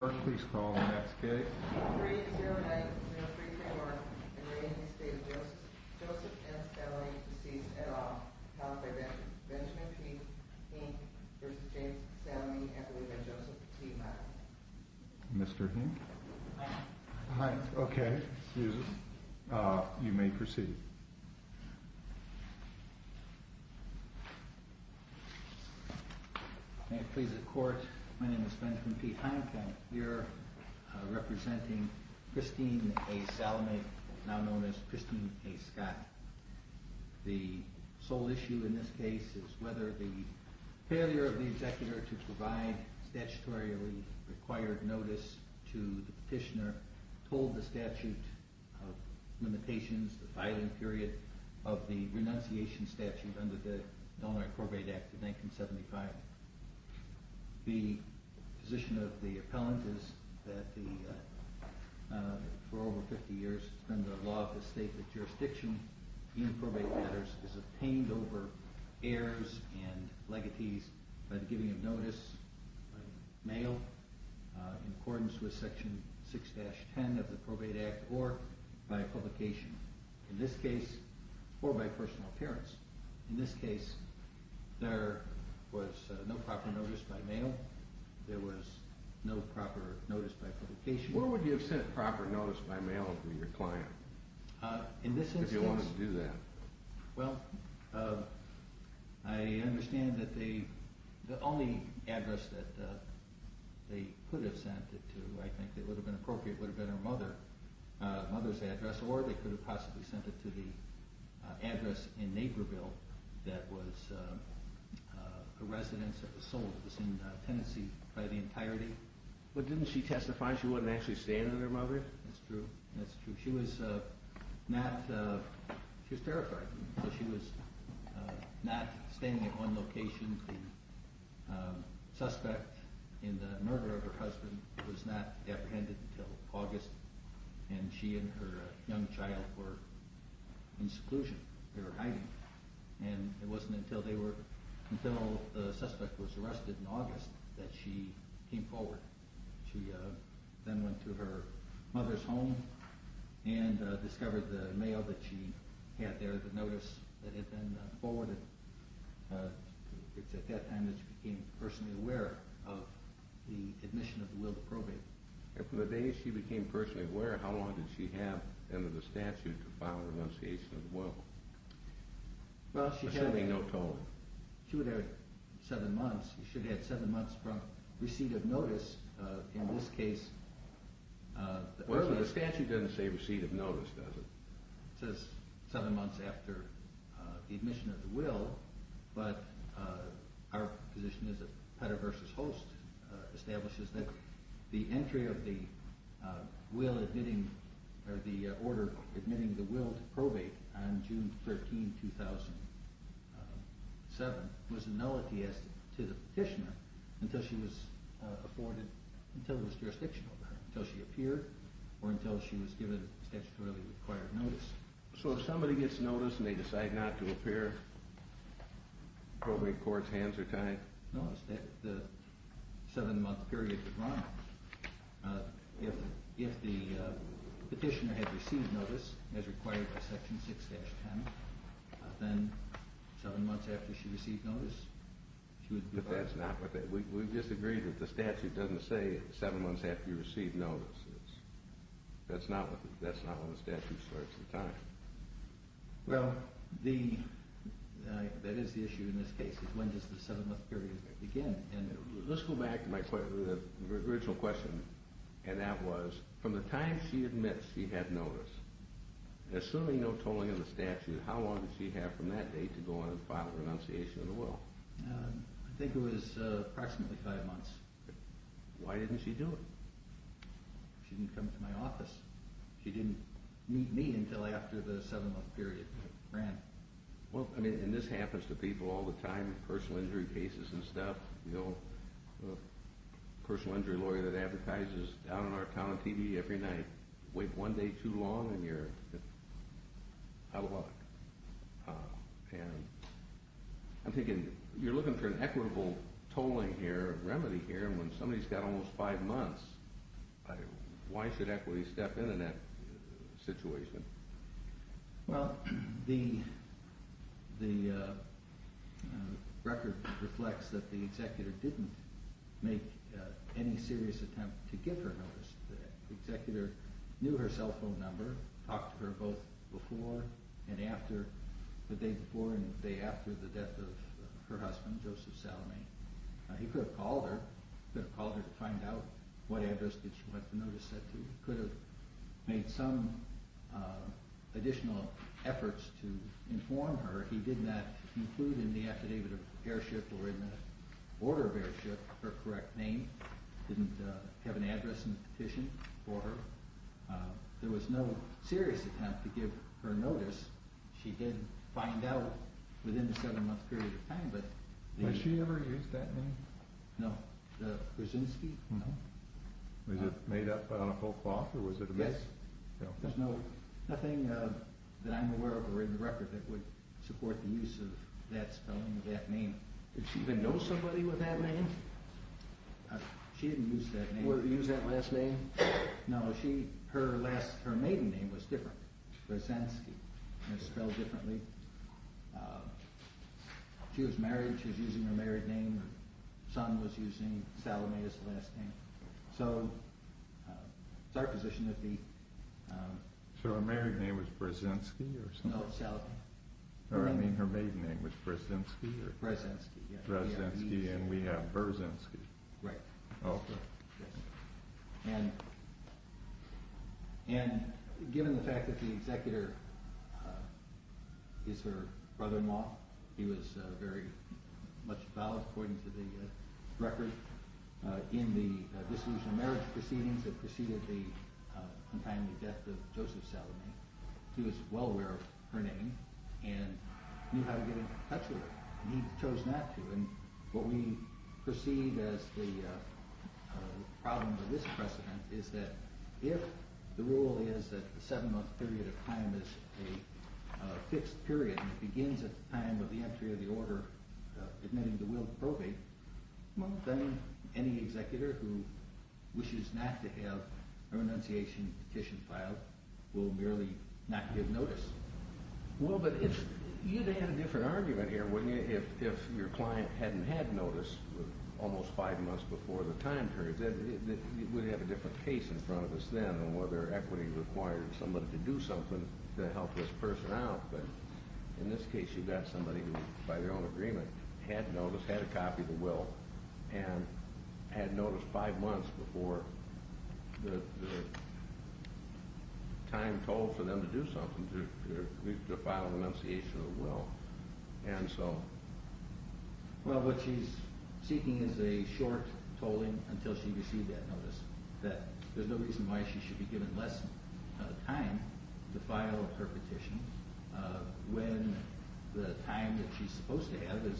or please call the next gate three zero nine zero three four and re Estate of Joseph S. L. A. deceased at all called by Benjamin P. Hinck v. James Salamie and believed by Joseph T. Hine. Mr. Hinck Hi. Hi. Okay. Excuse us. You may proceed. May it please the court My name is Benjamin P. Hinck and we are representing Christine A. Salamie now known as Christine A. Scott The sole issue in this case is whether the failure of the executor to provide statutorily required notice to the petitioner told the statute of limitations, the filing period of the renunciation statute under the Illinois Corbett Act of 1975 The position of the appellant is that for over 50 years under the law of the state the jurisdiction in probate matters is obtained over heirs and legacies by the giving of notice by the mail in accordance with section 6-10 of the probate act or by publication in this case or by personal appearance. In this case there was no proper notice by mail there was no proper notice by publication. Where would you have sent proper notice by mail to your client if you wanted to do that? Well, I understand that the only address that they could have sent it to I think that would have been appropriate would have been her mother mother's address or they could have possibly sent it to the address in Naperville that was a residence that was sold. It was in Tennessee by the entirety. But didn't she testify she wouldn't actually stand at her mother's? That's true, that's true. She was not, she was terrified. She was not standing at one location. The suspect in the murder of her husband was not apprehended until August and she and her young child were in seclusion. They were hiding and it wasn't until they were until the suspect was arrested in August that she came forward. She then went to her mother's home and discovered the mail that she had there the notice that had been forwarded. It's at that time that she became personally aware of the admission of the will to probate. And from the day she became personally aware how long did she have under the statute to file a renunciation of the will? Assuming no tolling. She would have had seven months She would have had seven months from receipt of notice in this case Well the statute doesn't say receipt of notice does it? It says seven months after the admission of the will but our position is that Petter versus Host establishes that the entry of the order admitting the will to probate on June 13, 2007 was nullity as to the petitioner until she was afforded until there was jurisdiction over her. Until she appeared or until she was given statutorily required notice. So if somebody gets notice and they decide not to appear, probate court's hands are tied? No, the seven month period is wrong If the petitioner had received notice as required by section 6-10 then seven months after she received notice We disagree that the statute doesn't say seven months after you receive notice. That's not when the statute starts the time. That is the issue in this case. When does the seven month period begin? Let's go back to my original question and that was from the time she admits she had notice assuming no tolling of the statute, how long did she have from that date to go on and file the renunciation of the will? I think it was approximately five months Why didn't she do it? She didn't come to my office. She didn't meet me until after the seven month period ran. And this happens to people all the time personal injury cases and stuff A personal injury lawyer that advertises down in our town on TV every night wait one day too long and you're out of luck I'm thinking, you're looking for an equitable tolling here, remedy here, and when somebody's got almost five months why should equity step in in that situation? Well, the record reflects that the executor didn't make any serious attempt to get her notice The executor knew her cell phone number, talked to her both before and after the day before and the day after the death of her husband, Joseph Salome. He could have called her to find out what address did she want the notice set to. He could have made some additional efforts to inform her. He did not include in the affidavit of airship or in the order of airship her correct name. He didn't have an address and petition for her. There was no serious attempt to give her notice. She did find out within the seven month period of time. Did she ever use that name? No. The Brzezinski? No. Was it made up on a whole cloth? Yes. There's nothing that I'm aware of or in the record that would support the use of that spelling of that name. Did she even know somebody with that name? She didn't use that name. Or use that last name? No. Her maiden name was different. Brzezinski. It was spelled differently. She was married. She was using her married name. Her son was using Salome as the last name. So it's our position that the So her married name was Brzezinski? No Salome. Her maiden name was Brzezinski? Brzezinski. And we have Brzezinski. Right. And given the fact that the executor is her brother-in-law he was very much valid according to the record in the dissolution of marriage proceedings that preceded the untimely death of Joseph Salome. He was well aware of her name and knew how to get in touch with her. He chose not to. And what we perceive as the problem with this precedent is that if the rule is that the seven month period of time is a fixed period and it begins at the time of the entry of the order admitting the will to probate, well then any executor who wishes not to have her annunciation petition filed will merely not give notice. Well but you'd have had a different argument here wouldn't you if your client hadn't had notice almost five months before the time period. We'd have a different case in front of us then on whether equity required somebody to do something to help this person out. But in this case you've got somebody who by their own agreement had notice, had a copy of the will and had notice five months before the time told for them to do something to file an annunciation of the will. Well what she's seeking is a short tolling until she received that notice. There's no reason why she should be given less time to file her petition when the time that she's supposed to have is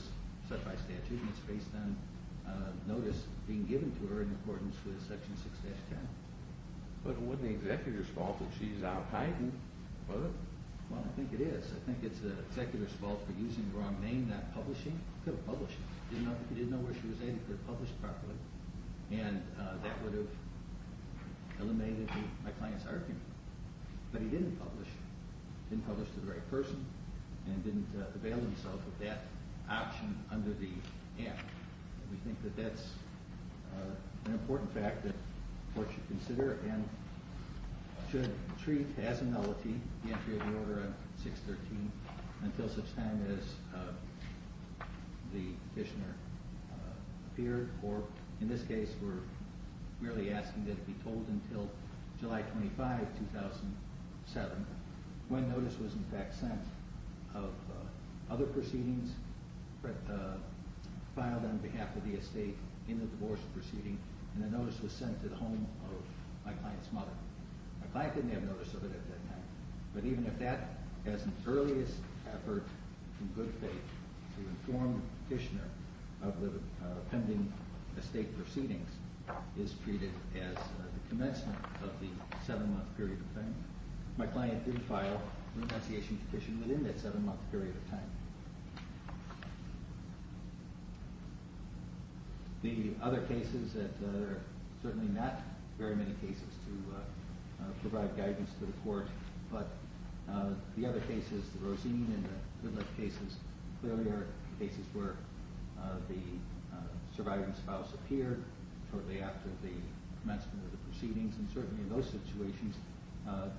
set by statute and it's based on notice being given to her in accordance with section 6-10. But wouldn't the executor's fault if she's out hiding? Well I think it is. I think it's the executor's fault for using the wrong name, not publishing. He could have published it. He didn't know where she was at. He could have published properly and that would have eliminated my client's argument. But he didn't publish. He didn't publish to the right person and didn't avail himself of that option under the act. We think that that's an important fact that courts should consider and should treat as a nullity the entry of the order on 6-13 until such time as the petitioner appeared or in this case we're merely asking that it be told until July 25, 2007 when notice was in fact sent of other proceedings filed on behalf of the estate in the divorce proceeding and the notice was sent to the home of my client's mother. My client didn't have notice of it at that time. But even if that as an earliest effort in good faith to inform the petitioner of the pending estate proceedings is treated as the commencement of the seven-month period of time, my client did file a retentiation petition within that seven-month period of time. The other cases that are certainly not very many cases to provide guidance to the court but the other cases, the Rosine and the Goodluck cases, clearly are cases where the surviving spouse appeared shortly after the commencement of the proceedings and certainly in those situations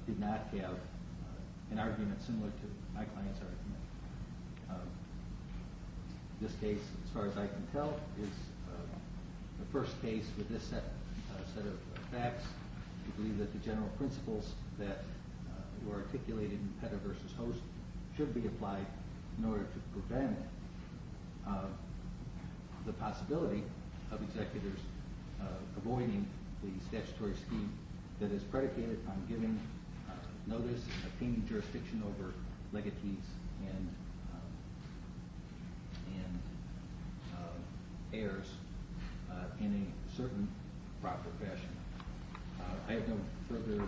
did not have an argument similar to my client's argument. This case, as far as I can tell, is the first case with this set of facts. We believe that the general principles that were articulated in Petter v. Host should be applied in order to prevent the possibility of executors avoiding the statutory scheme that is predicated on giving notice and obtaining jurisdiction over legatees and heirs in a certain proper fashion. I have no further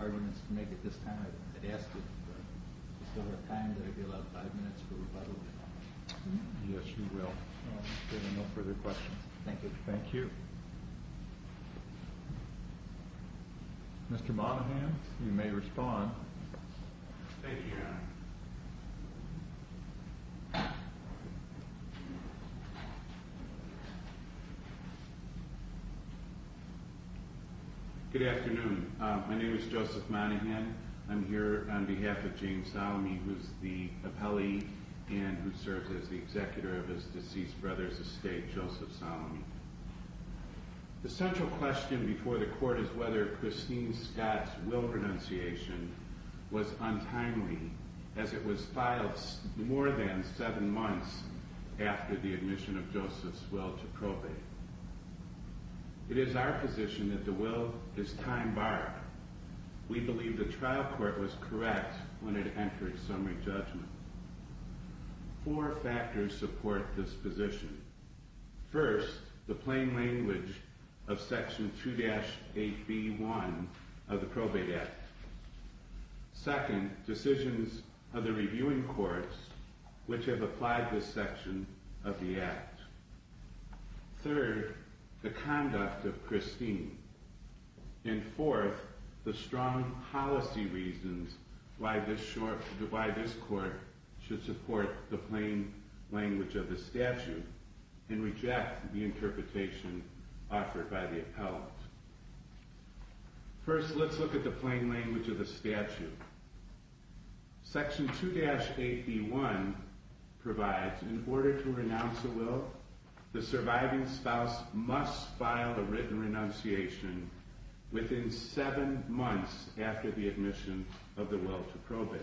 arguments to make at this time. I'd ask that we still have time. There will be about five minutes for rebuttal. I have no further questions. Thank you. Mr. Monaghan, you may respond. Thank you, Your Honor. Good afternoon. My name is Joseph Monaghan. I'm here on behalf of James Salome, who is the appellee and who serves as the executor of his deceased brother's estate, Joseph Salome. The central question before the court is whether Christine Scott's will renunciation was untimely, as it was filed more than seven months after the admission of Joseph's will to probate. It is our position that the will is time-barred. We believe the trial court was correct when it entered summary judgment. Four factors support this position. First, the plain language of Section 2-8b-1 of the Probate Act. Second, decisions of the reviewing courts which have applied this section of the Act. Third, the conduct of the court. And fourth, the strong policy reasons why this court should support the plain language of the statute and reject the interpretation offered by the appellant. First, let's look at the plain language of the statute. Section 2-8b-1 provides, in order to renounce a will, the surviving spouse must file a written renunciation within seven months after the admission of the will to probate.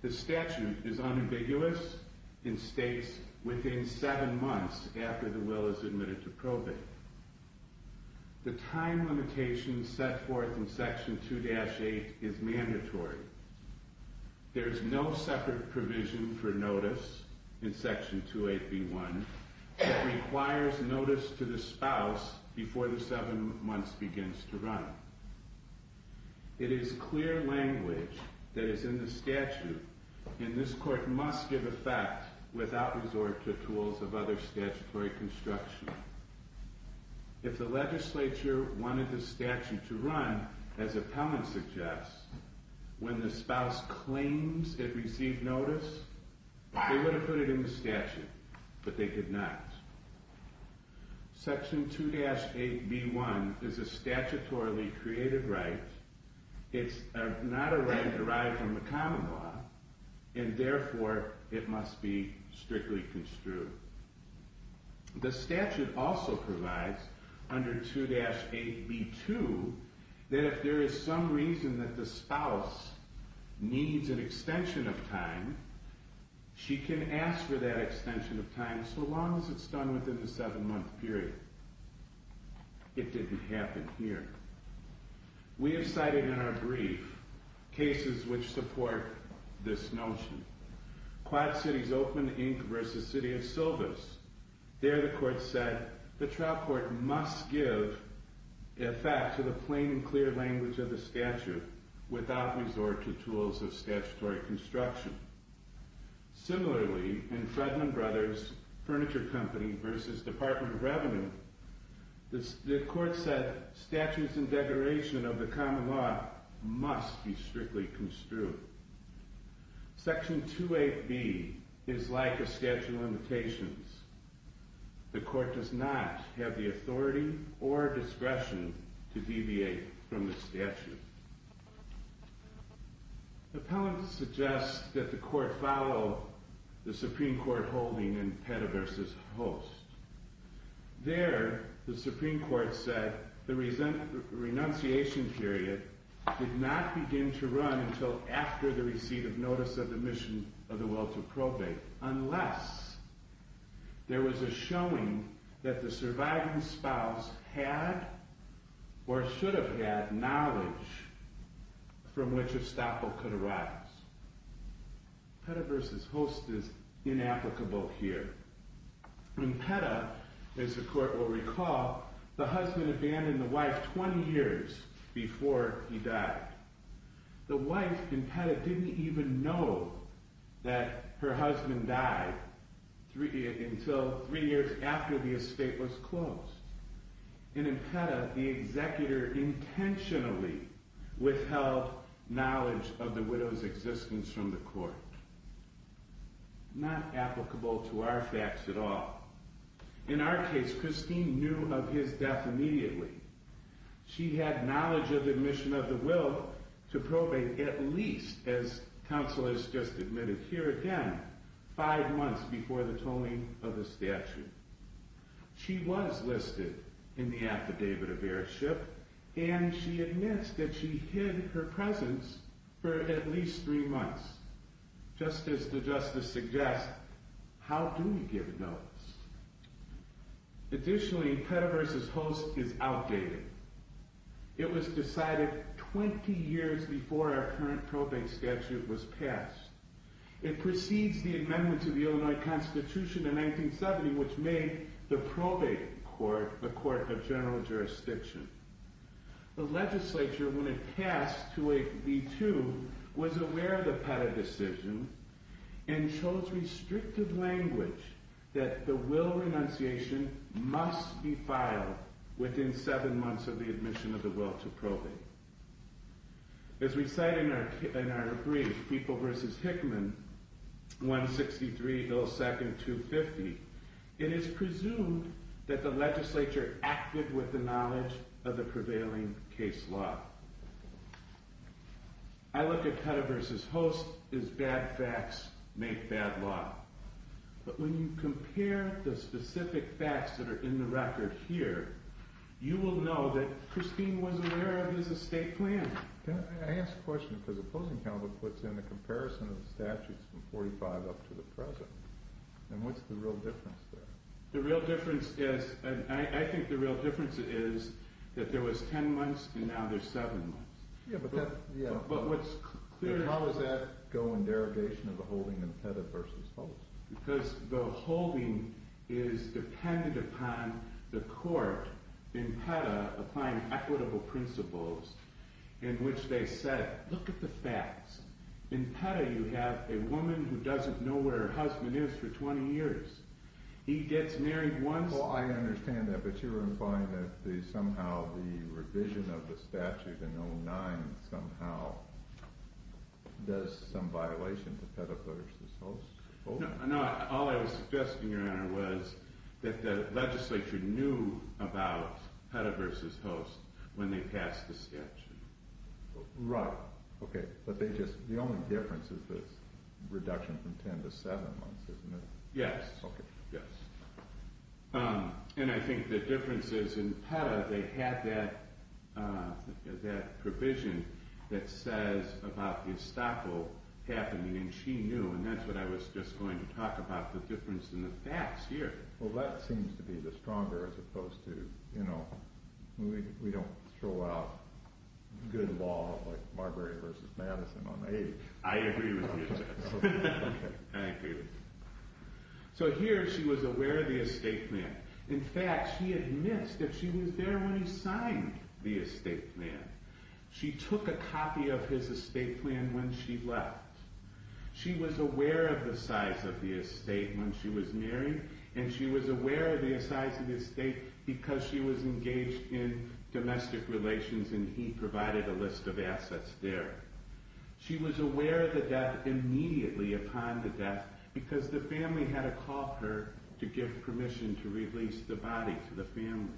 The statute is unambiguous and states within seven months after the will is admitted to probate. The time limitation set forth in Section 2-8 is mandatory. There is no separate provision for notice in Section 2-8b-1 that the spouse before the seven months begins to run. It is clear language that is in the statute and this court must give effect without resort to tools of other statutory construction. If the legislature wanted the statute to run, as appellants suggest, when the spouse claims it received notice, they would have put it in the statute, but they did not. Section 2-8b-1 is a statutorily created right. It's not a right derived from the common law, and therefore it must be strictly construed. The statute also provides, under 2-8b-2, that if there is some reason that the spouse needs an extension of time, she can ask for that extension of time so long as it's done within the seven month period. It didn't happen here. We have cited in our brief cases which support this notion. Quad Cities Open, Inc. vs. City of Silvis. There the court said the trial court must give effect to the plain and clear language of the statute without resort to tools of statutory construction. Similarly, in Fredman Brothers Furniture Company vs. Department of Revenue, the court said statutes and declaration of the common law must be strictly construed. Section 2-8b is like a statute of limitations. The court does not have the authority or discretion to deviate from the statute. Appellants suggest that the court follow the Supreme Court holding in Pettiverse's Host. There, the Supreme Court said the renunciation period did not begin to run until after the receipt of notice of the mission of the will to probate, unless there was a showing that the surviving spouse had or from which estoppel could arise. Pettiverse's Host is inapplicable here. In Petta, as the court will recall, the husband abandoned the wife 20 years before he died. The wife in Petta didn't even know that her husband died until three years after the estate was closed. In Petta, the executor intentionally withheld knowledge of the widow's existence from the court. Not applicable to our facts at all. In our case, Christine knew of his death immediately. She had knowledge of the mission of the will to probate at least, as counsel has just admitted here again, five months before the tolling of the statute. She was listed in the and she admits that she hid her presence for at least three months. Just as the justice suggests, how do we give notice? Additionally, Pettiverse's Host is outdated. It was decided 20 years before our current probate statute was passed. It precedes the amendments of the Illinois Constitution in 1970, which made the probate court a court of general jurisdiction. The legislature, when it passed 28B2, was aware of the Petta decision and chose restrictive language that the will renunciation must be filed within seven months of the admission of the will to probate. As we cite in our brief, People v. Hickman, 163-02-250, it is presumed that the legislature acted with the knowledge of the prevailing case law. I look at Pettiverse's Host as bad facts make bad law. But when you compare the specific facts that are in the record here, you will know that Christine was aware of his estate plan. I ask the question because opposing counsel puts in a comparison of statutes from 45 up to the present. And what's the real difference? I think the real difference is that there was 10 months and now there's seven months. How does that go in derogation of the holding in Petta v. Host? Because the holding is dependent upon the court in Petta applying equitable principles in which they said, look at the facts. In Petta you have a woman who doesn't know where her husband is for 20 years. He gets married once. Well, I understand that, but you're implying that somehow the revision of the statute in 09 somehow does some violation to Petta v. Host? No, all I was suggesting, Your Honor, was that the legislature knew about Petta v. Host when they passed the statute. Right. Okay, but the only difference is the reduction from 10 to seven months, isn't it? Yes. And I think the difference is in Petta they had that provision that says about the estoppel happening and she knew and that's what I was just going to talk about the difference in the facts here. Well, that seems to be the stronger as opposed to, you know, we don't throw out good law like Marbury v. Madison on the 80th. I agree with you. Thank you. So here she was aware of the estate plan. In fact, she admits that she was there when he signed the estate plan. She took a copy of his estate plan when she left. She was aware of the size of the estate when she was married and she was aware of the size of the estate because she was engaged in domestic relations and he provided a list of assets there. She was aware of the death immediately upon the death because the family had to call her to give permission to release the body to the family.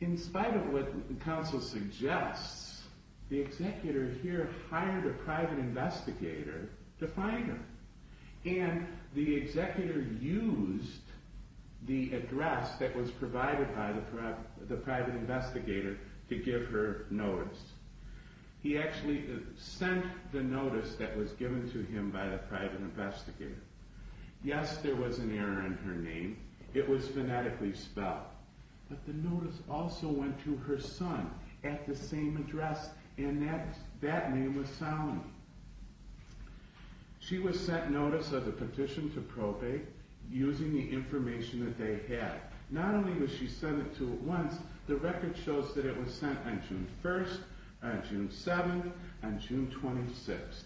In spite of what counsel suggests, the executor here hired a private investigator to find him and the executor used the address that was provided by the private investigator to give her notice. He actually sent the notice that was given to him by the private investigator. Yes, there was an error in her name. It was phonetically spelled. But the notice also went to her son at the same address and that name was Solomon. She was sent notice of the petition to probate using the information that they had. Not only was she sent it to at once, the record shows that it was sent on June 1st, June 7th, and June 26th.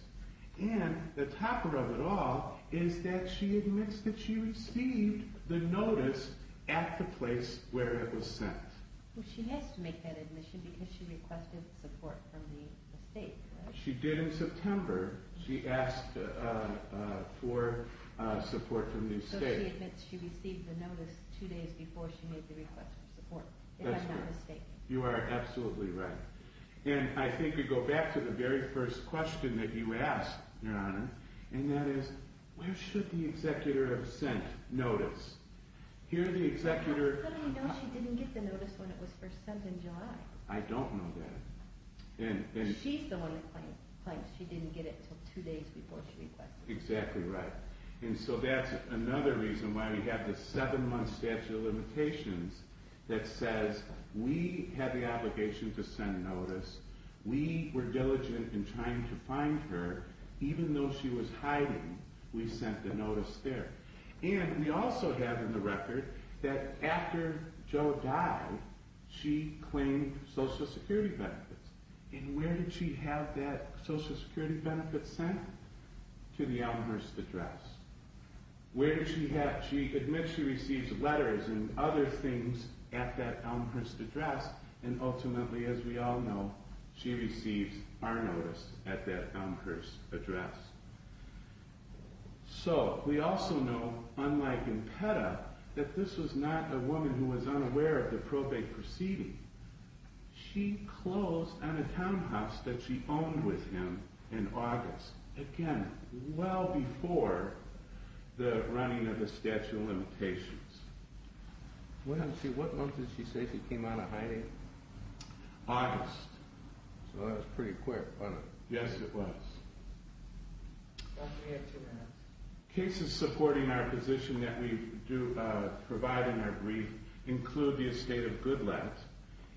And the topper of it all is that she admits that she received the notice at the place where it was sent. Well, she has to make that admission because she requested support from the estate. She did in September. She asked for support from the estate. So she admits she received the notice two days before she made the request for support, if I'm not mistaken. You are absolutely right. And I think we go back to the very first question that you asked, Your Honor, and that is, where should the executor have sent notice? Here the executor... How do you know she didn't get the notice when it was first sent in July? I don't know that. She's the one that claims she didn't get it until two days before she requested it. Exactly right. And so that's another reason why we have a seven-month statute of limitations that says we have the obligation to send notice. We were diligent in trying to find her. Even though she was hiding, we sent the notice there. And we also have in the record that after Joe died, she claimed Social Security benefits. And where did she have that Social Security benefit sent? To the Elmhurst address. Where did she have... She admits she receives letters and other things at that Elmhurst address, and ultimately as we all know, she receives our notice at that Elmhurst address. So, we also know unlike in PETA, that this was not a woman who was unaware of the probate proceeding. She closed on a townhouse that she owned with him in August. Again, well before the running of the statute of limitations. What month did she say she came out of hiding? August. So that was pretty quick, wasn't it? Yes, it was. Cases supporting our position that we do provide in our brief include the estate of Goodlatte.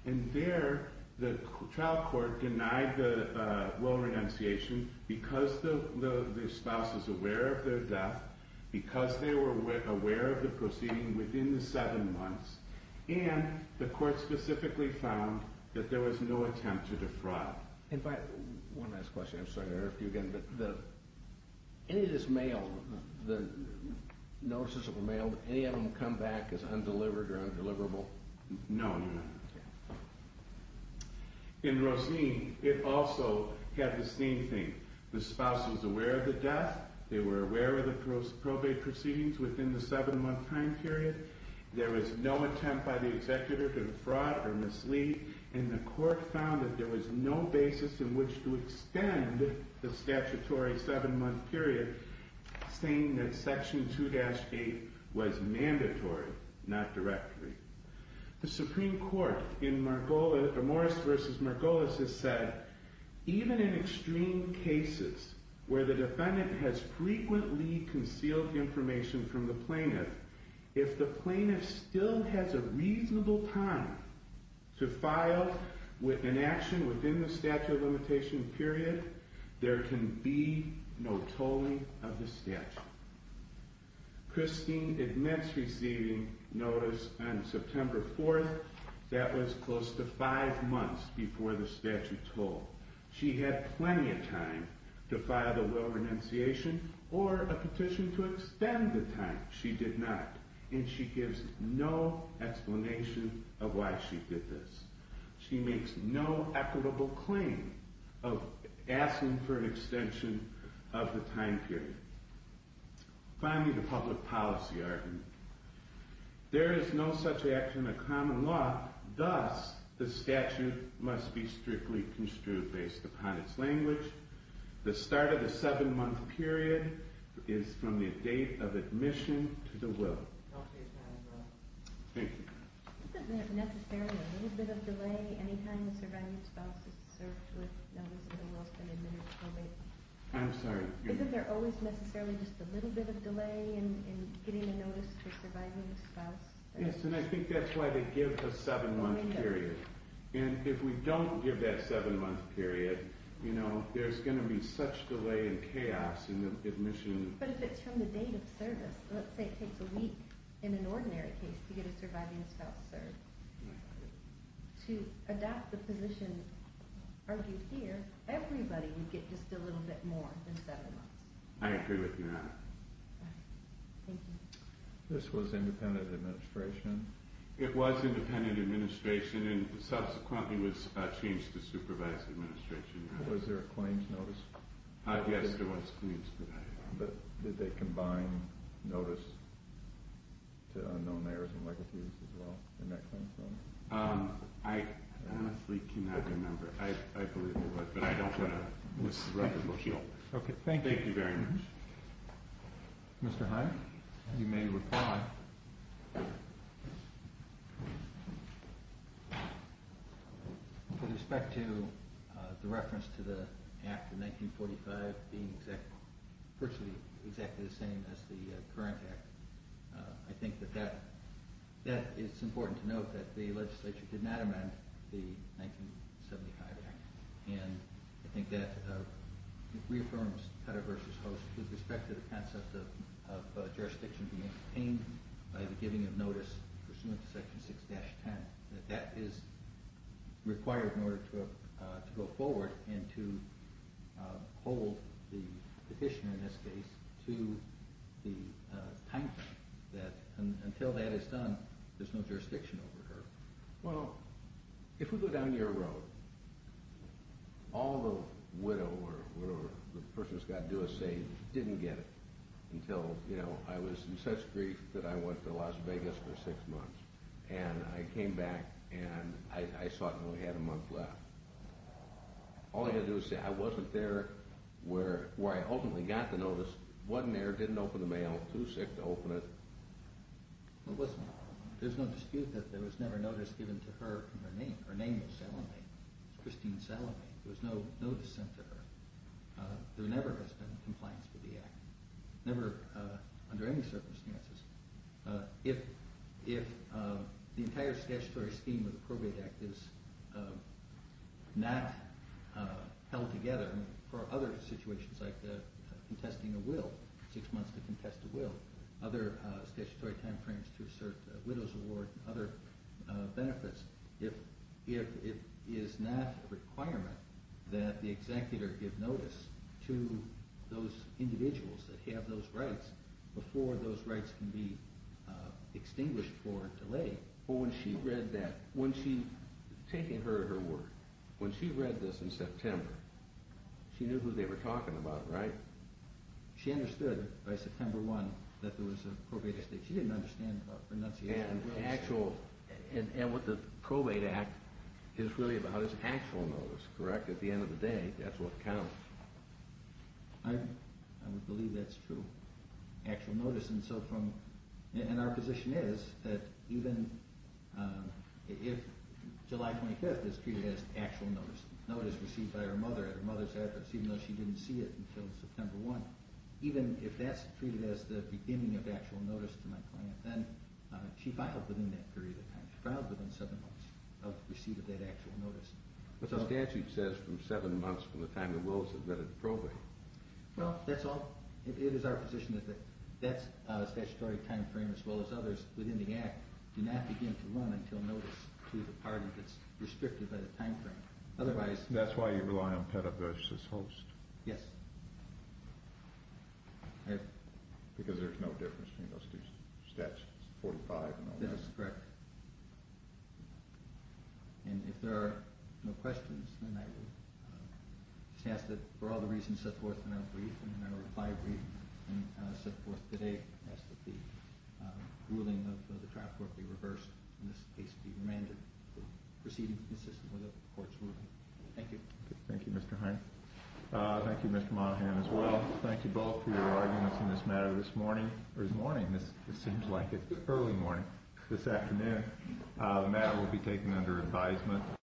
And there the trial court denied the will of renunciation because the spouse was aware of their death, because they were aware of the proceeding within the seven months, and the court specifically found that there was no attempt to defraud. One last question, I'm sorry to interrupt you again, any of this mail, the notices of the mail, any of them come back as undelivered or undeliverable? No, Your Honor. In Rosene, it also had the same thing. The spouse was aware of the death, they were aware of the probate proceedings within the seven month time period, there was no attempt by the executive to defraud or mislead, and the court found that there was no basis in which to extend the statutory seven month period saying that section 2-8 was mandatory, not directory. The Supreme Court in even in extreme cases where the defendant has frequently concealed information from the plaintiff, if the plaintiff still has a reasonable time to file with inaction within the statute of limitations period, there can be no tolling of the statute. Christine admits receiving notice on September 4th, that was close to five months before the statute told. She had plenty of time to file the will of renunciation or a petition to extend the time. She did not, and she gives no explanation of why she did this. She makes no equitable claim of asking for an extension of the time period. Finally, the public policy argument. There is no such action in the common law thus the statute must be strictly construed based upon its language. The start of the seven month period is from the date of admission to the will. Thank you. Isn't there necessarily a little bit of delay any time the surviving spouse is served with notice of the will has been admitted to probation? I'm sorry. Isn't there always necessarily just a little bit of delay in getting a notice for surviving a spouse? Yes, and I think that's why they give a seven month period. And if we don't give that seven month period, you know, there's going to be such delay and chaos in the admission. But if it's from the date of service, let's say it takes a week in an ordinary case to get a surviving spouse served. To adapt the position argued here, everybody would get just a little bit more than seven months. I agree with you on that. Thank you. This was independent administration? It was independent administration and subsequently was changed to supervised administration. Was there a claims notice? Yes, there was. But did they combine notice to unknown heirs and legacies as well? I honestly cannot remember. I believe there was, but I don't want to miss the record. Thank you very much. Mr. Hyatt, you may reply. With respect to the reference to the act of 1945 being virtually exactly the same as the current act, I think that it's important to note that the legislature did not amend the 1975 act. And I think that it reaffirms Cutter v. Host with respect to the concept of jurisdiction being obtained by the giving of notice pursuant to section 6-10. That that is required in order to go forward and to hold the petition, in this case, to the time frame that until that is done there's no jurisdiction over her. Well, if we go down your road, all the widow or whatever the person's got to do is say, didn't get it until I was in such grief that I went to Las Vegas for six months and I came back and I saw it and only had a month left. All I had to do was say, I wasn't there where I ultimately got the notice, wasn't there, didn't open the mail, too sick to open it. Well, listen, there's no dispute that there was never notice given to her from her name. Her name was Salome, Christine Salome. There was no notice sent to her. There never has been compliance with the act, never under any circumstances. If the entire statutory scheme of the act is not held together for other situations like contesting a will, six months to contest a will, other statutory time frames to assert a widow's award, other benefits, if it is not a requirement that the executor give notice to those individuals that have those rights before those rights can be extinguished for delay. Well, when she read that, when she was taking her word, when she read this in September, she knew who they were talking about, right? She understood by September 1 that there was a probate estate. She didn't understand pronunciation. And what the probate act is really about is actual notice, correct? At the end of the day, that's what counts. I would believe that's true. Actual notice. And our position is that even if July 25th is treated as actual notice, notice received by her mother at her mother's address, even though she didn't see it until September 1, even if that's treated as the beginning of actual notice to my client, then she filed within that period of time. She filed within seven months of receiving that actual notice. But the statute says from seven months from the time the will is admitted to probate. Well, that's all. It is our position that that statutory time frame as well as others within the act do not begin to run until notice to the party that's restricted by the time frame. That's why you rely on peta versus host. Yes. Because there's no difference between those two statutes. Yes, correct. And if there are no questions, then I will just ask that for all the reasons set forth in our brief and in our reply brief and set forth today that the ruling of the trial court be reversed and this case be remanded proceeding consistently with the court's ruling. Thank you. Thank you, Mr. Heine. Thank you, Mr. Monahan, as well. Thank you both for your arguments in this matter this morning, or this morning, it seems like it, early morning, this afternoon. The matter will be taken under advisement.